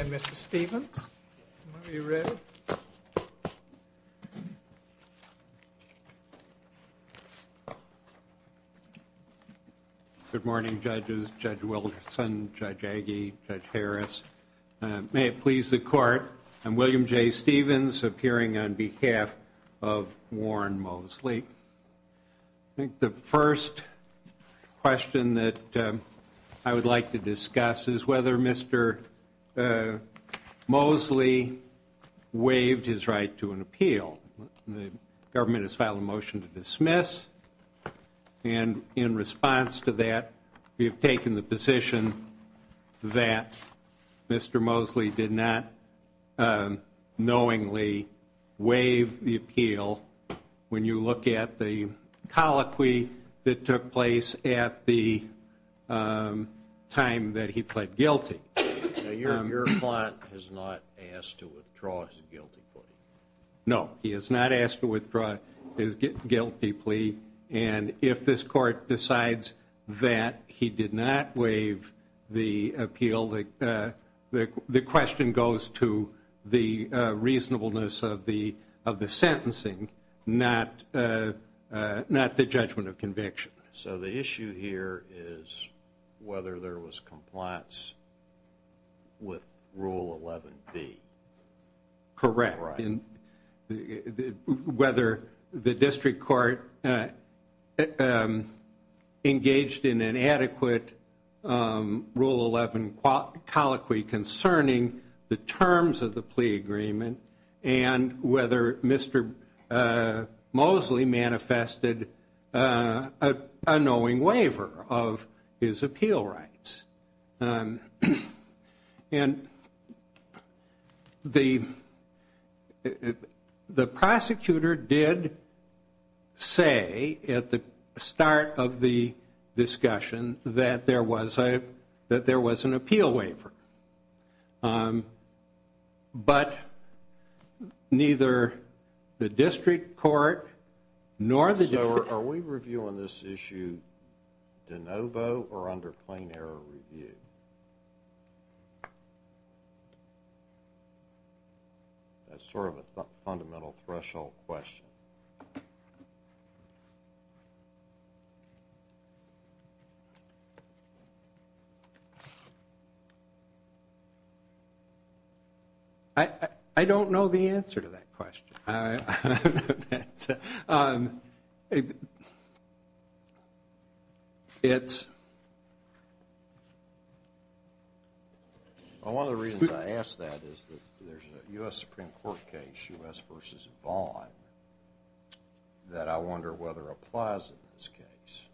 and Mr. Stevens. Are you ready? Good morning, judges, Judge Wilson, Judge Agee, Judge Harris. May it please the court, I'm William J. Stevens, appearing on behalf of Warren Moseley. I think the first question that I would like to discuss is whether Mr. Moseley waived his right to an appeal. The government has filed a motion to dismiss, and in response to that, we have taken the position that Mr. Moseley did not knowingly waive the appeal when you look at the colloquy that took place at the time that he pled guilty. Your client has not asked to withdraw his guilty plea. No, he has not asked to withdraw his guilty plea, and if this court decides that he did not waive the appeal, the question goes to the reasonableness of the sentencing, not the judgment of conviction. So the issue here is whether there was compliance with Rule 11B. Correct. Whether the district court engaged in an adequate Rule 11 colloquy concerning the terms of the plea agreement and whether Mr. Moseley manifested a knowing waiver of his appeal rights. And the prosecutor did say at the start of the discussion that there was an appeal waiver, but neither the district court nor the district... So are we reviewing this issue de novo or under plain error review? That's sort of a fundamental threshold question. I don't know the answer to that question. One of the reasons I ask that is that there's a U.S. Supreme Court case, U.S. v. Vaughn, that I wonder whether applies in this case.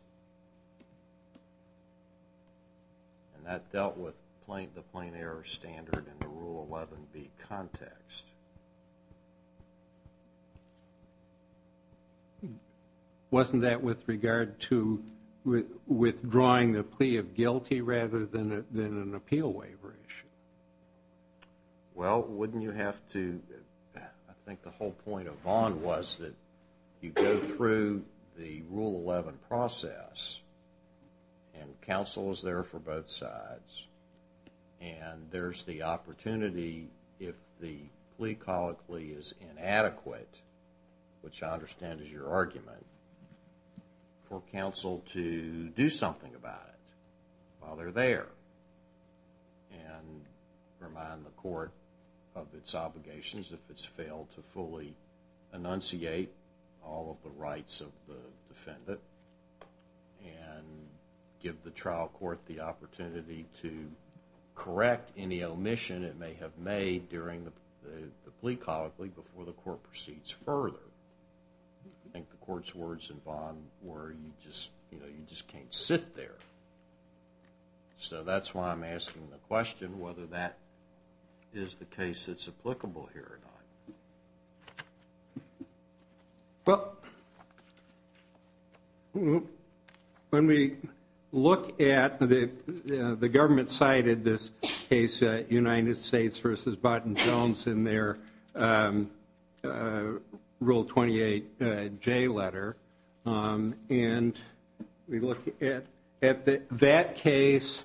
And that dealt with the plain error standard in the Rule 11B context. Wasn't that with regard to withdrawing the plea of guilty rather than an appeal waiver issue? Well, wouldn't you have to... I think the whole point of Vaughn was that you go through the Rule 11 process and counsel is there for both sides and there's the opportunity if the plea colloquy is inadequate, which I understand is your argument, for counsel to do something about it while they're there. And remind the court of its obligations if it's failed to fully enunciate all of the rights of the defendant and give the trial court the opportunity to correct any omission it may have made during the plea colloquy before the court proceeds further. I think the court's words in Vaughn were you just can't sit there. So that's why I'm asking the question whether that is the case that's applicable here or not. Well, when we look at the government cited this case, United States v. Barton Jones, in their Rule 28J letter. And we look at that case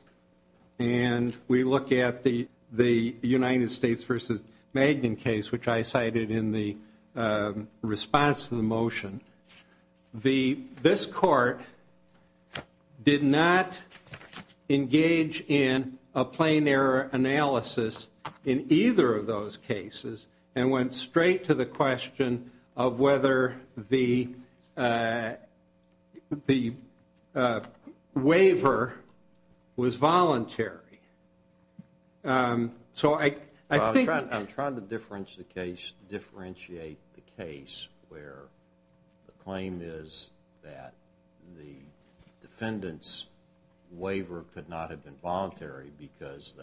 and we look at the United States v. Magnin case, which I cited in the response to the motion. This court did not engage in a plain error analysis in either of those cases and went straight to the question of whether the waiver was voluntary. I'm trying to differentiate the case where the claim is that the defendant's waiver could not have been voluntary because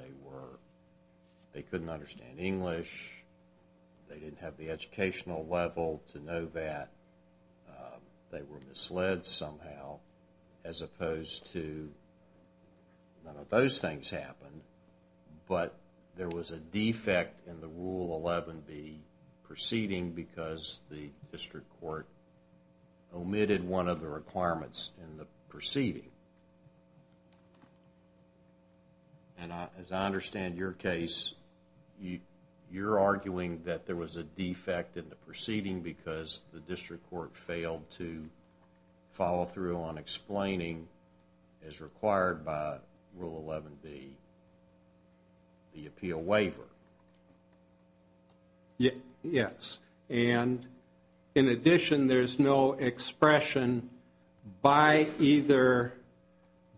they couldn't understand English. They didn't have the educational level to know that they were misled somehow as opposed to none of those things happened. But there was a defect in the Rule 11B proceeding because the district court omitted one of the requirements in the proceeding. And as I understand your case, you're arguing that there was a defect in the proceeding because the district court failed to follow through on explaining as required by Rule 11B the appeal waiver. Yes. And in addition, there's no expression by either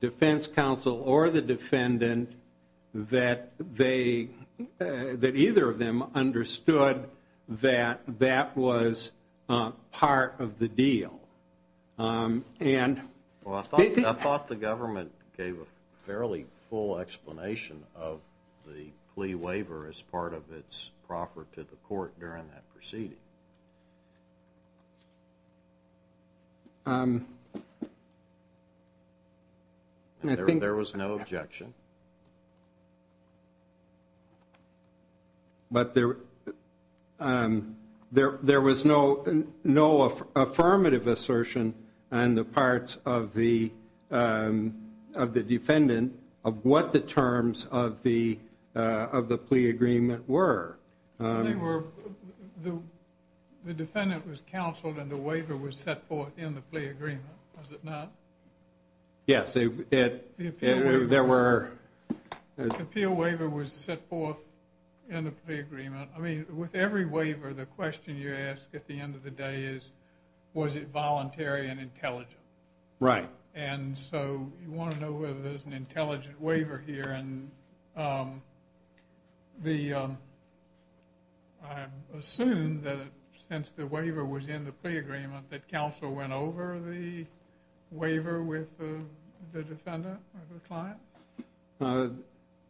defense counsel or the defendant that either of them understood that that was part of the deal. Well, I thought the government gave a fairly full explanation of the plea waiver as part of its proffer to the court during that proceeding. There was no objection. But there was no affirmative assertion on the part of the defendant of what the terms of the plea agreement were. The defendant was counseled and the waiver was set forth in the plea agreement, was it not? Yes, there were. The appeal waiver was set forth in the plea agreement. I mean, with every waiver, the question you ask at the end of the day is, was it voluntary and intelligent? Right. And so you want to know whether there's an intelligent waiver here. And I assume that since the waiver was in the plea agreement, that counsel went over the waiver with the defendant or the client?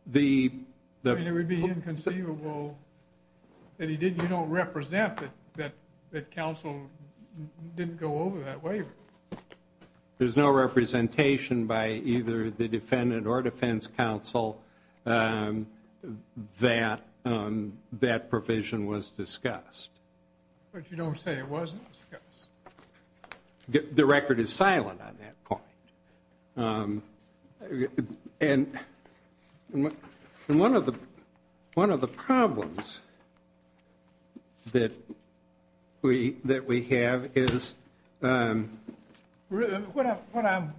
It would be inconceivable that you don't represent that counsel didn't go over that waiver. There's no representation by either the defendant or defense counsel that that provision was discussed. But you don't say it wasn't discussed? The record is silent on that point. And one of the problems that we have is... What I'm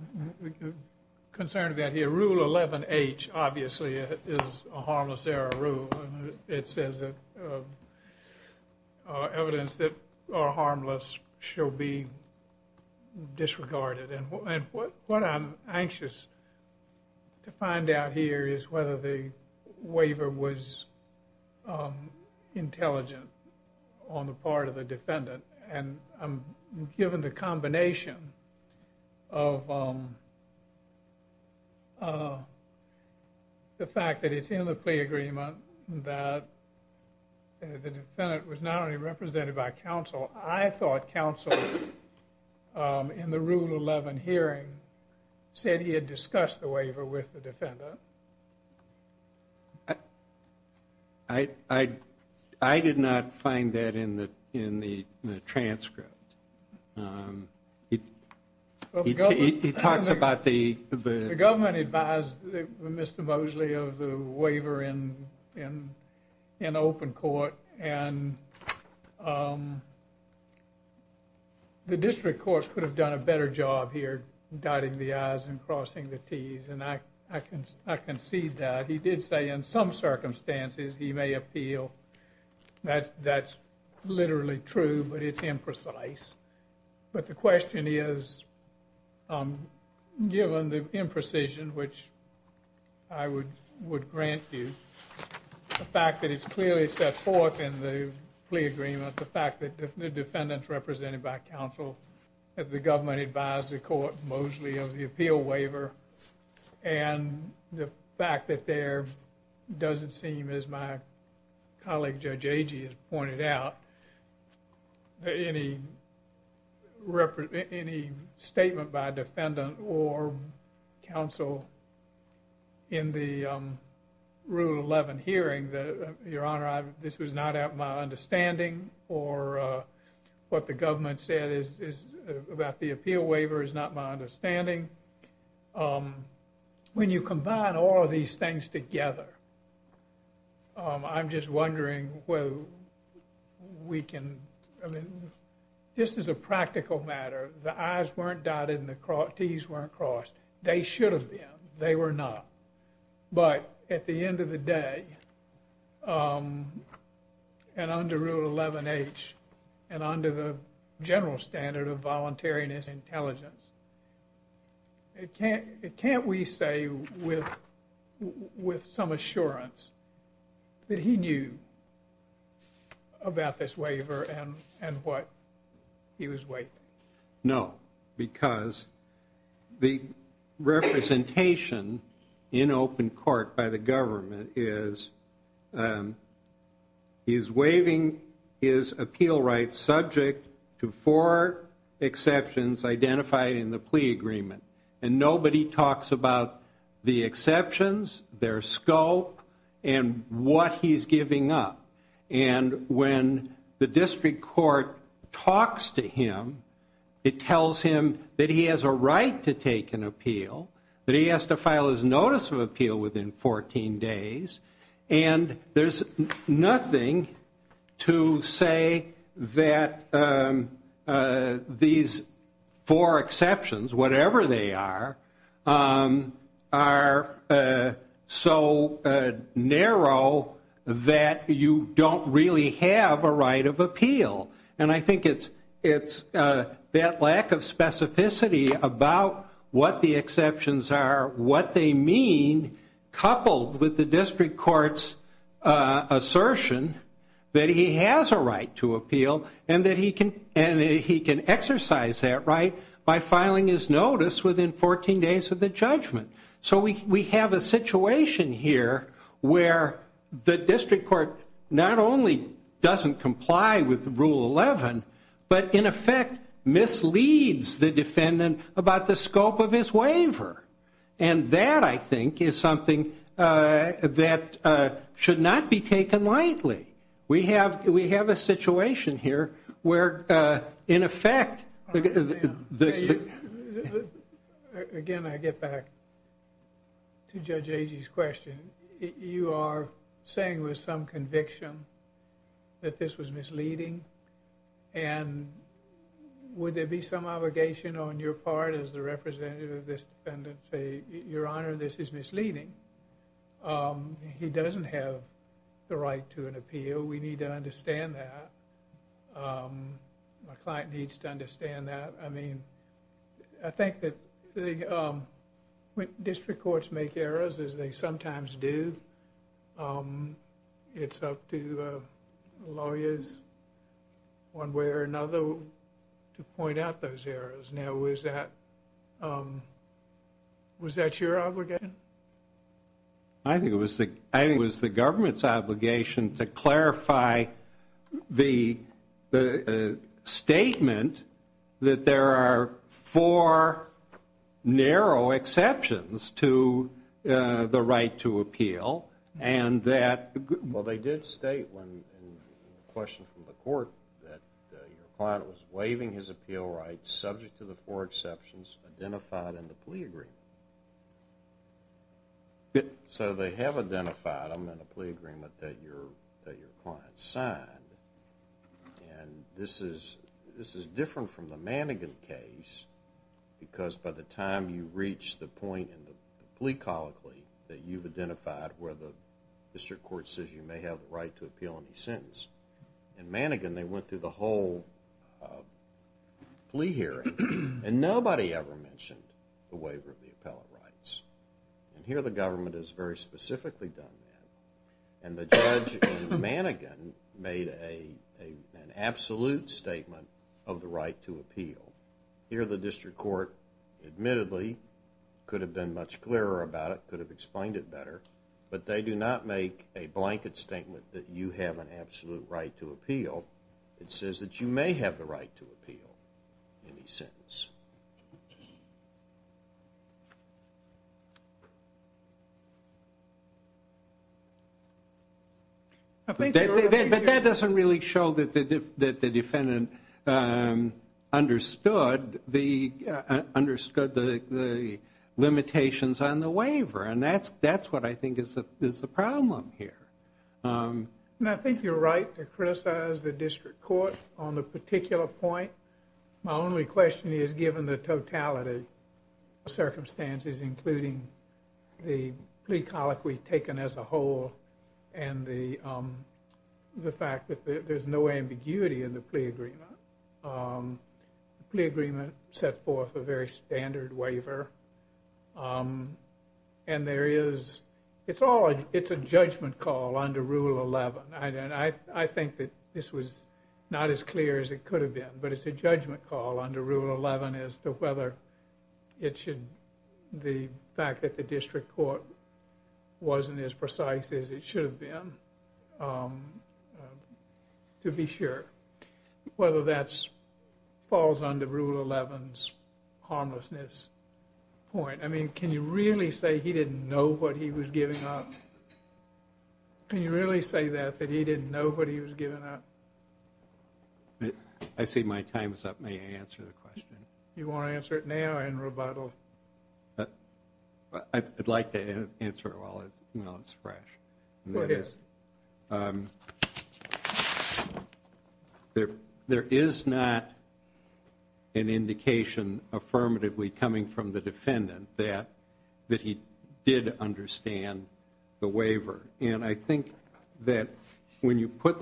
concerned about here, Rule 11H obviously is a harmless error rule. It says that evidence that are harmless shall be disregarded. And what I'm anxious to find out here is whether the waiver was intelligent on the part of the defendant. And I'm given the combination of the fact that it's in the plea agreement, that the defendant was not only represented by counsel. I thought counsel in the Rule 11 hearing said he had discussed the waiver with the defendant. I did not find that in the transcript. He talks about the... The district court could have done a better job here dotting the I's and crossing the T's. And I can see that. He did say in some circumstances he may appeal. That's literally true, but it's imprecise. But the question is, given the imprecision, which I would grant you, the fact that it's clearly set forth in the plea agreement, the fact that the defendant's represented by counsel, that the government advised the court mostly of the appeal waiver, and the fact that there doesn't seem, as my colleague Judge Agee has pointed out, any statement by defendant or counsel in the Rule 11 hearing that, Your Honor, this was not my understanding or what the government said about the appeal waiver is not my understanding. I think when you combine all of these things together, I'm just wondering whether we can... This is a practical matter. The I's weren't dotted and the T's weren't crossed. They should have been. They were not. But at the end of the day, and under Rule 11H and under the general standard of voluntariness and intelligence, can't we say with some assurance that he knew about this waiver and what he was waiving? No, because the representation in open court by the government is, he's waiving his appeal rights subject to four exceptions identified in the plea agreement. And nobody talks about the exceptions, their scope, and what he's giving up. And when the district court talks to him, it tells him that he has a right to take an appeal, that he has to file his notice of appeal within 14 days, And there's nothing to say that these four exceptions, whatever they are, are so narrow that you don't really have a right of appeal. And I think it's that lack of specificity about what the exceptions are, what they mean, coupled with the district court's assertion that he has a right to appeal, and that he can exercise that right by filing his notice within 14 days of the judgment. So we have a situation here where the district court not only doesn't comply with Rule 11, but, in effect, misleads the defendant about the scope of his waiver. And that, I think, is something that should not be taken lightly. We have a situation here where, in effect... Again, I get back to Judge Agee's question. You are saying with some conviction that this was misleading. And would there be some obligation on your part as the representative of this defendant to say, Your Honor, this is misleading. He doesn't have the right to an appeal. We need to understand that. My client needs to understand that. I mean, I think that district courts make errors, as they sometimes do. It's up to lawyers, one way or another, to point out those errors. Now, was that your obligation? I think it was the government's obligation to clarify the statement that there are four narrow exceptions to the right to appeal, and that... Well, they did state in the question from the court that your client was waiving his appeal rights subject to the four exceptions identified in the plea agreement. So they have identified them in a plea agreement that your client signed. And this is different from the Mannegan case, because by the time you reach the point in the plea colloquy that you've identified where the district court says you may have the right to appeal any sentence, in Mannegan they went through the whole plea hearing, and nobody ever mentioned the waiver of the appellate rights. And here the government has very specifically done that. And the judge in Mannegan made an absolute statement of the right to appeal. Here the district court, admittedly, could have been much clearer about it, could have explained it better, but they do not make a blanket statement that you have an absolute right to appeal. It says that you may have the right to appeal any sentence. But that doesn't really show that the defendant understood the limitations on the waiver, and that's what I think is the problem here. And I think you're right to criticize the district court on the particular point. My only question is, given the totality of circumstances, including the plea colloquy taken as a whole and the fact that there's no ambiguity in the plea agreement, the plea agreement sets forth a very standard waiver. And there is, it's a judgment call under Rule 11. I think that this was not as clear as it could have been, but it's a judgment call under Rule 11 as to whether it should, the fact that the district court wasn't as precise as it should have been, to be sure whether that falls under Rule 11's harmlessness point. I mean, can you really say he didn't know what he was giving up? Can you really say that, that he didn't know what he was giving up? I see my time is up. May I answer the question? You want to answer it now or in rebuttal? I'd like to answer it while it's fresh. Go ahead. There is not an indication affirmatively coming from the defendant that he did understand the waiver. And I think that when you put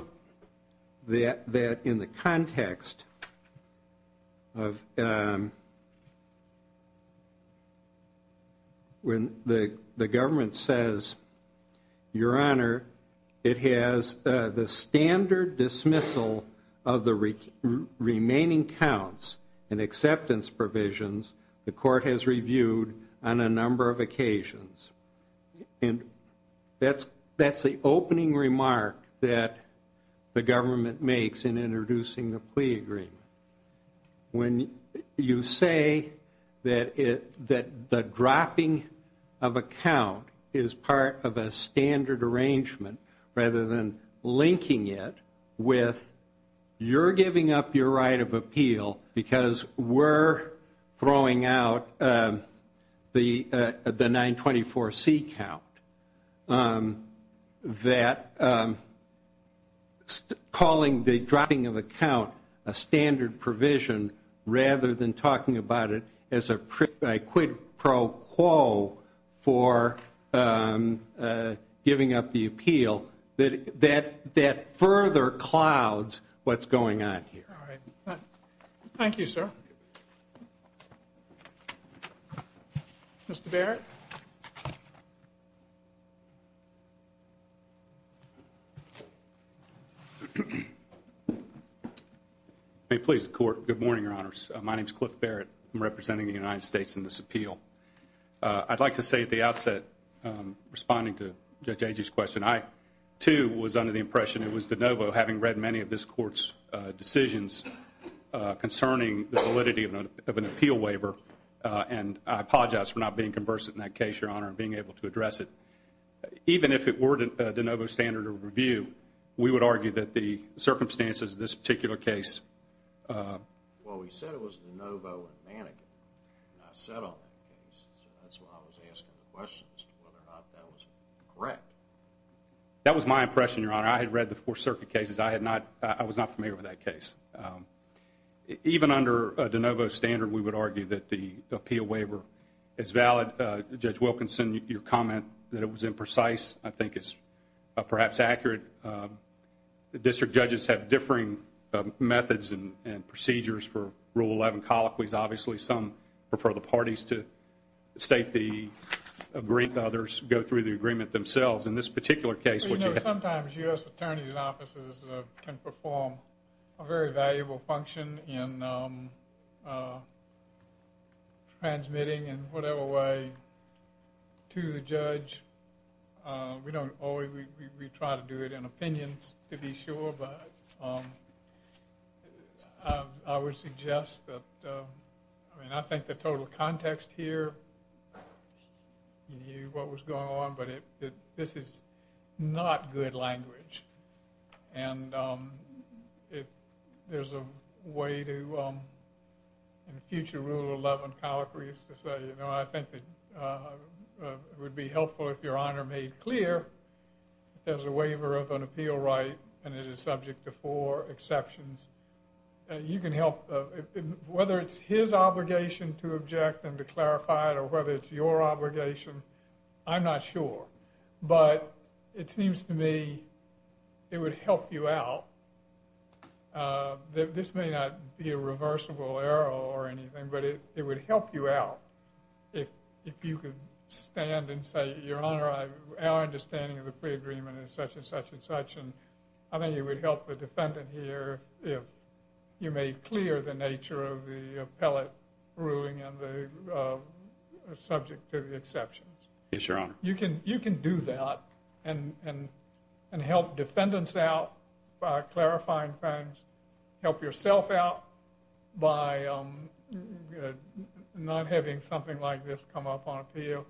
that in the context of when the government says, Your Honor, it has the standard dismissal of the remaining counts and acceptance provisions the court has reviewed on a number of occasions. And that's the opening remark that the government makes in introducing the plea agreement. When you say that the dropping of a count is part of a standard arrangement rather than linking it with you're giving up your right of appeal because we're throwing out the 924C count, that calling the dropping of a count a standard provision rather than talking about it as a quid pro quo for giving up the appeal, that further clouds what's going on here. All right. Thank you, sir. Thank you. Mr. Barrett? May it please the court, good morning, Your Honors. My name is Cliff Barrett. I'm representing the United States in this appeal. I'd like to say at the outset, responding to Judge Agee's question, I, too, was under the impression it was de novo, having read many of this court's decisions concerning the validity of an appeal waiver. And I apologize for not being conversant in that case, Your Honor, and being able to address it. Even if it were de novo standard of review, we would argue that the circumstances of this particular case. Well, we said it was de novo and mannequin. I sat on that case. That's why I was asking the question as to whether or not that was correct. That was my impression, Your Honor. I had read the Fourth Circuit cases. I was not familiar with that case. Even under de novo standard, we would argue that the appeal waiver is valid. Judge Wilkinson, your comment that it was imprecise I think is perhaps accurate. District judges have differing methods and procedures for Rule 11 colloquies, obviously. Some prefer the parties to state the agreement. Others go through the agreement themselves. Sometimes U.S. attorneys' offices can perform a very valuable function in transmitting in whatever way to the judge. We try to do it in opinions to be sure, but I would suggest that I think the total context here, you knew what was going on, but this is not good language. And there's a way to, in future Rule 11 colloquies, to say, I think it would be helpful if Your Honor made clear that there's a waiver of an appeal right and it is subject to four exceptions. You can help, whether it's his obligation to object and to clarify it or whether it's your obligation, I'm not sure. But it seems to me it would help you out. This may not be a reversible error or anything, but it would help you out if you could stand and say, Your Honor, our understanding of the pre-agreement is such and such and such, and I think it would help the defendant here if you made clear the nature of the appellate ruling subject to the exceptions. Yes, Your Honor. You can do that and help defendants out by clarifying things, help yourself out by not having something like this come up on appeal.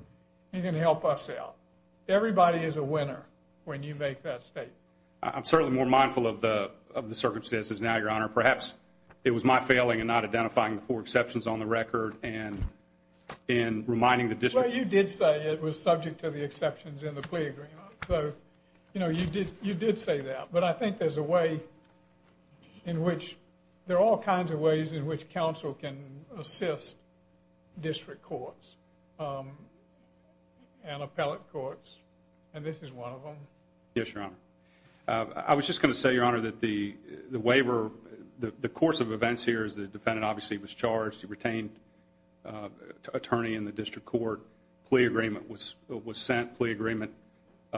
You can help us out. Everybody is a winner when you make that statement. I'm certainly more mindful of the circumstances now, Your Honor. Perhaps it was my failing in not identifying the four exceptions on the record and reminding the district. Well, you did say it was subject to the exceptions in the plea agreement. So, you know, you did say that. But I think there's a way in which there are all kinds of ways in which counsel can assist district courts and appellate courts, and this is one of them. Yes, Your Honor. I was just going to say, Your Honor, that the waiver, the course of events here is the defendant obviously was charged. He retained attorney in the district court. Plea agreement was sent. Plea agreement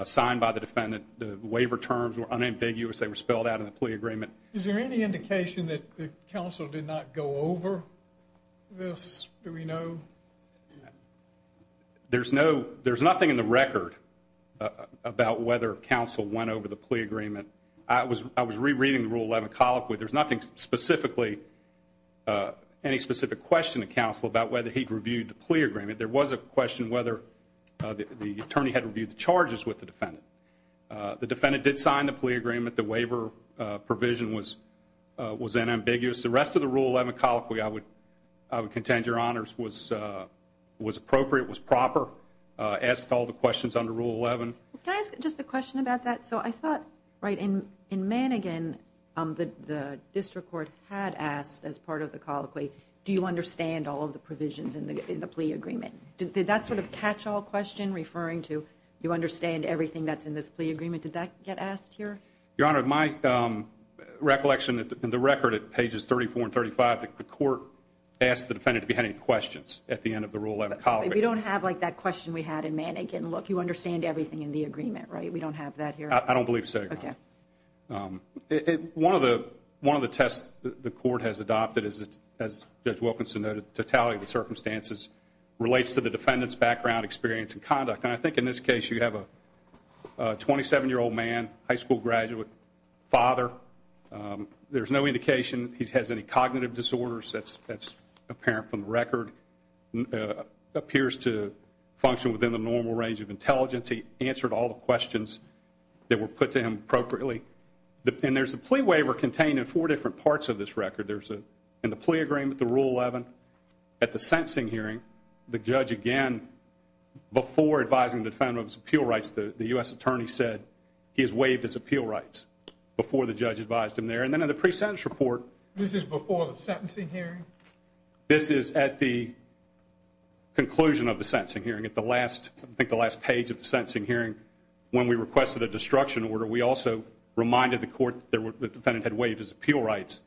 signed by the defendant. The waiver terms were unambiguous. They were spelled out in the plea agreement. Is there any indication that counsel did not go over this? Do we know? There's nothing in the record about whether counsel went over the plea agreement. I was rereading the Rule 11 colloquy. There's nothing specifically, any specific question to counsel about whether he'd reviewed the plea agreement. There was a question whether the attorney had reviewed the charges with the defendant. The defendant did sign the plea agreement. The waiver provision was unambiguous. The rest of the Rule 11 colloquy, I would contend, Your Honors, was appropriate, was proper, asked all the questions under Rule 11. Can I ask just a question about that? So I thought, right, in Manningham, the district court had asked as part of the colloquy, do you understand all of the provisions in the plea agreement? Did that sort of catch-all question referring to you understand everything that's in this plea agreement, did that get asked here? Your Honor, my recollection in the record at pages 34 and 35, the court asked the defendant if he had any questions at the end of the Rule 11 colloquy. We don't have like that question we had in Manningham. Look, you understand everything in the agreement, right? We don't have that here? I don't believe so, Your Honor. Okay. One of the tests the court has adopted, as Judge Wilkinson noted, totality of the circumstances relates to the defendant's background, experience, and conduct. And I think in this case you have a 27-year-old man, high school graduate, father. There's no indication he has any cognitive disorders. That's apparent from the record. Appears to function within the normal range of intelligence. He answered all the questions that were put to him appropriately. And there's a plea waiver contained in four different parts of this record. There's in the plea agreement, the Rule 11. At the sentencing hearing, the judge again, before advising the defendant of his appeal rights, the U.S. attorney said he has waived his appeal rights before the judge advised him there. And then in the pre-sentence report. This is before the sentencing hearing? This is at the conclusion of the sentencing hearing. At the last page of the sentencing hearing, when we requested a destruction order, we also reminded the court that the defendant had waived his appeal rights.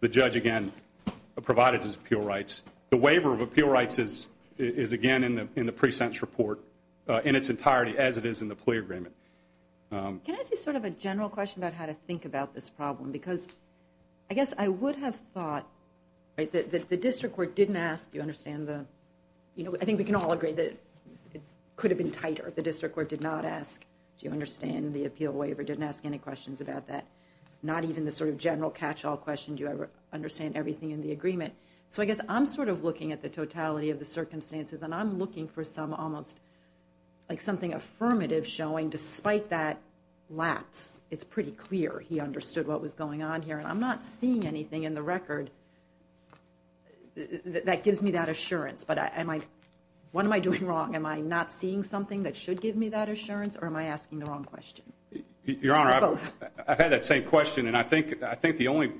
The judge, again, provided his appeal rights. The waiver of appeal rights is, again, in the pre-sentence report in its entirety, as it is in the plea agreement. Can I ask you sort of a general question about how to think about this problem? Because I guess I would have thought that the district court didn't ask, you understand, I think we can all agree that it could have been tighter if the district court did not ask, do you understand the appeal waiver, didn't ask any questions about that. Not even the sort of general catch-all question, do you understand everything in the agreement. So I guess I'm sort of looking at the totality of the circumstances, and I'm looking for something affirmative showing, despite that lapse, it's pretty clear he understood what was going on here. And I'm not seeing anything in the record that gives me that assurance. But what am I doing wrong? Am I not seeing something that should give me that assurance, or am I asking the wrong question? Your Honor, I've had that same question, and I think the only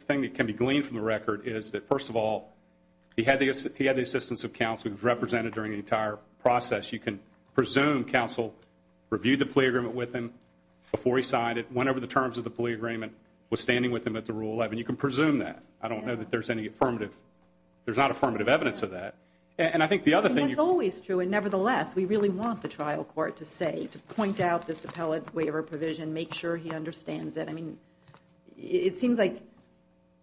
thing that can be gleaned from the record is that, first of all, he had the assistance of counsel who was represented during the entire process. You can presume counsel reviewed the plea agreement with him before he signed it, went over the terms of the plea agreement, was standing with him at the Rule 11. You can presume that. I don't know that there's any affirmative, there's not affirmative evidence of that. And I think the other thing you could... That's always true, and nevertheless, we really want the trial court to say, to point out this appellate waiver provision, make sure he understands it. I mean, it seems like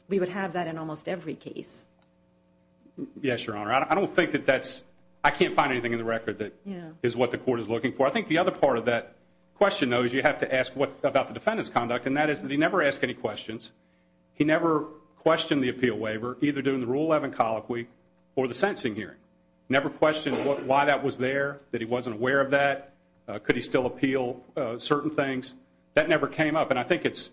we would have that in almost every case. Yes, Your Honor. I don't think that that's... I can't find anything in the record that is what the court is looking for. I think the other part of that question, though, is you have to ask about the defendant's conduct, and that is that he never asked any questions. He never questioned the appeal waiver, either during the Rule 11 colloquy or the sentencing hearing. Never questioned why that was there, that he wasn't aware of that. Could he still appeal certain things? That never came up, and I think it's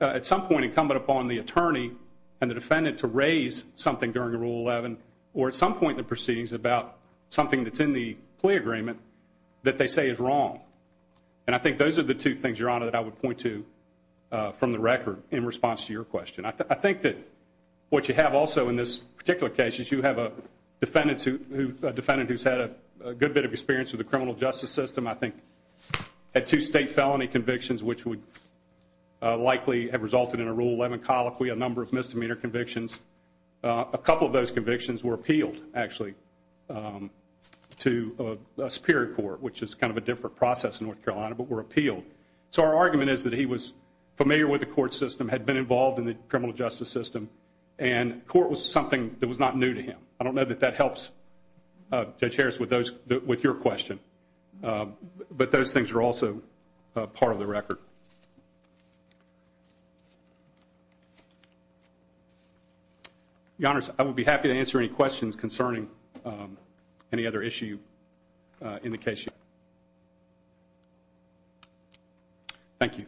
at some point incumbent upon the attorney and the defendant to raise something during the Rule 11 or at some point in the proceedings about something that's in the plea agreement that they say is wrong. And I think those are the two things, Your Honor, that I would point to from the record in response to your question. I think that what you have also in this particular case is you have a defendant who's had a good bit of experience with the criminal justice system, I think had two state felony convictions, which would likely have resulted in a Rule 11 colloquy, a number of misdemeanor convictions. A couple of those convictions were appealed, actually, to a superior court, which is kind of a different process in North Carolina, but were appealed. So our argument is that he was familiar with the court system, had been involved in the criminal justice system, and court was something that was not new to him. I don't know that that helps Judge Harris with your question, but those things are also part of the record. Your Honor, I would be happy to answer any questions concerning any other issue in the case you have. Thank you. Thank you.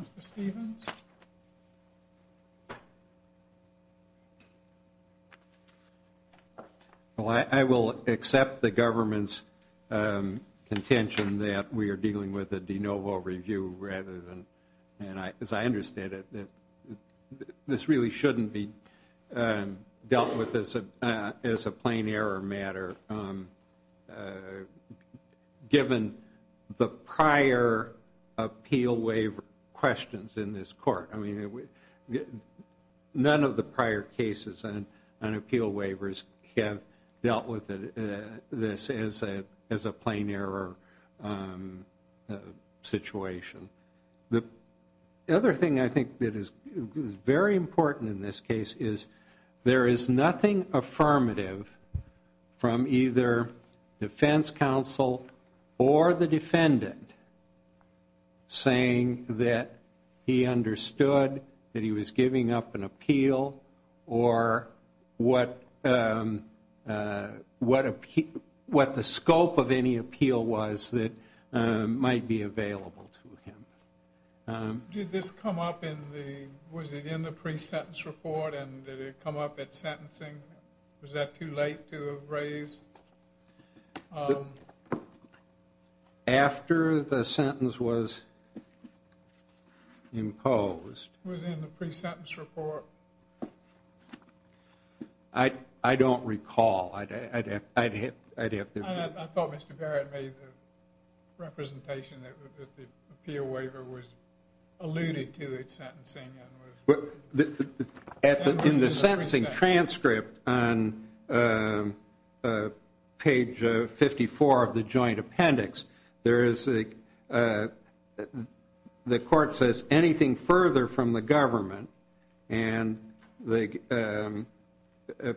Mr. Stevens? Well, I will accept the government's contention that we are dealing with a de novo review rather than, as I understand it, this really shouldn't be dealt with as a plain error matter, given the prior appeal waiver questions in this court. I mean, none of the prior cases on appeal waivers have dealt with this as a plain error situation. The other thing I think that is very important in this case is there is nothing affirmative from either defense counsel or the defendant saying that he understood that he was giving up an appeal or what the scope of any appeal was that might be available to him. Did this come up in the, was it in the pre-sentence report and did it come up at sentencing? Was that too late to have raised? After the sentence was imposed. Was it in the pre-sentence report? I don't recall. I thought Mr. Barrett made the representation that the appeal waiver was alluded to at sentencing. In the sentencing transcript on page 54 of the joint appendix, there is a, the court says anything further from the government and the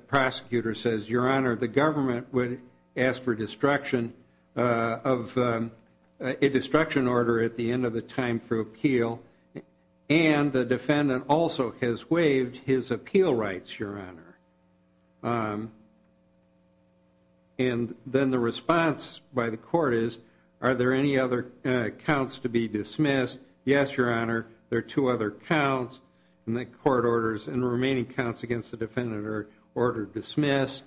prosecutor says, Your Honor, the government would ask for destruction of a destruction order at the end of the time for appeal and the defendant also has waived his appeal rights, Your Honor. And then the response by the court is, are there any other counts to be dismissed? Yes, Your Honor, there are two other counts and the court orders and the remaining counts against the defendant are ordered dismissed.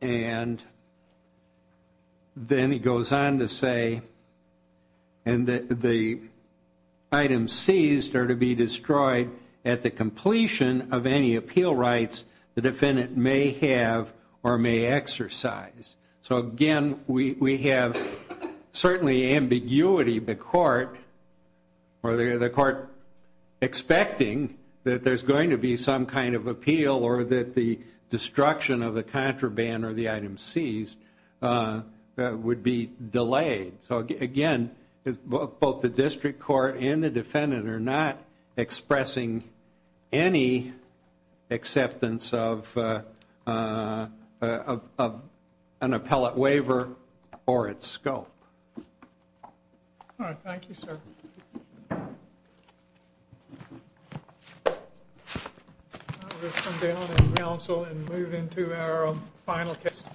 And then he goes on to say, and the items seized are to be destroyed at the completion of any appeal rights the defendant may have or may exercise. So again, we have certainly ambiguity, the court, or the court expecting that there's going to be some kind of appeal or that the destruction of the contraband or the item seized would be delayed. So again, both the district court and the defendant are not expressing any acceptance of an appellate waiver or its scope. All right, thank you, sir. Thank you. We're going to come down and counsel and move into our final case.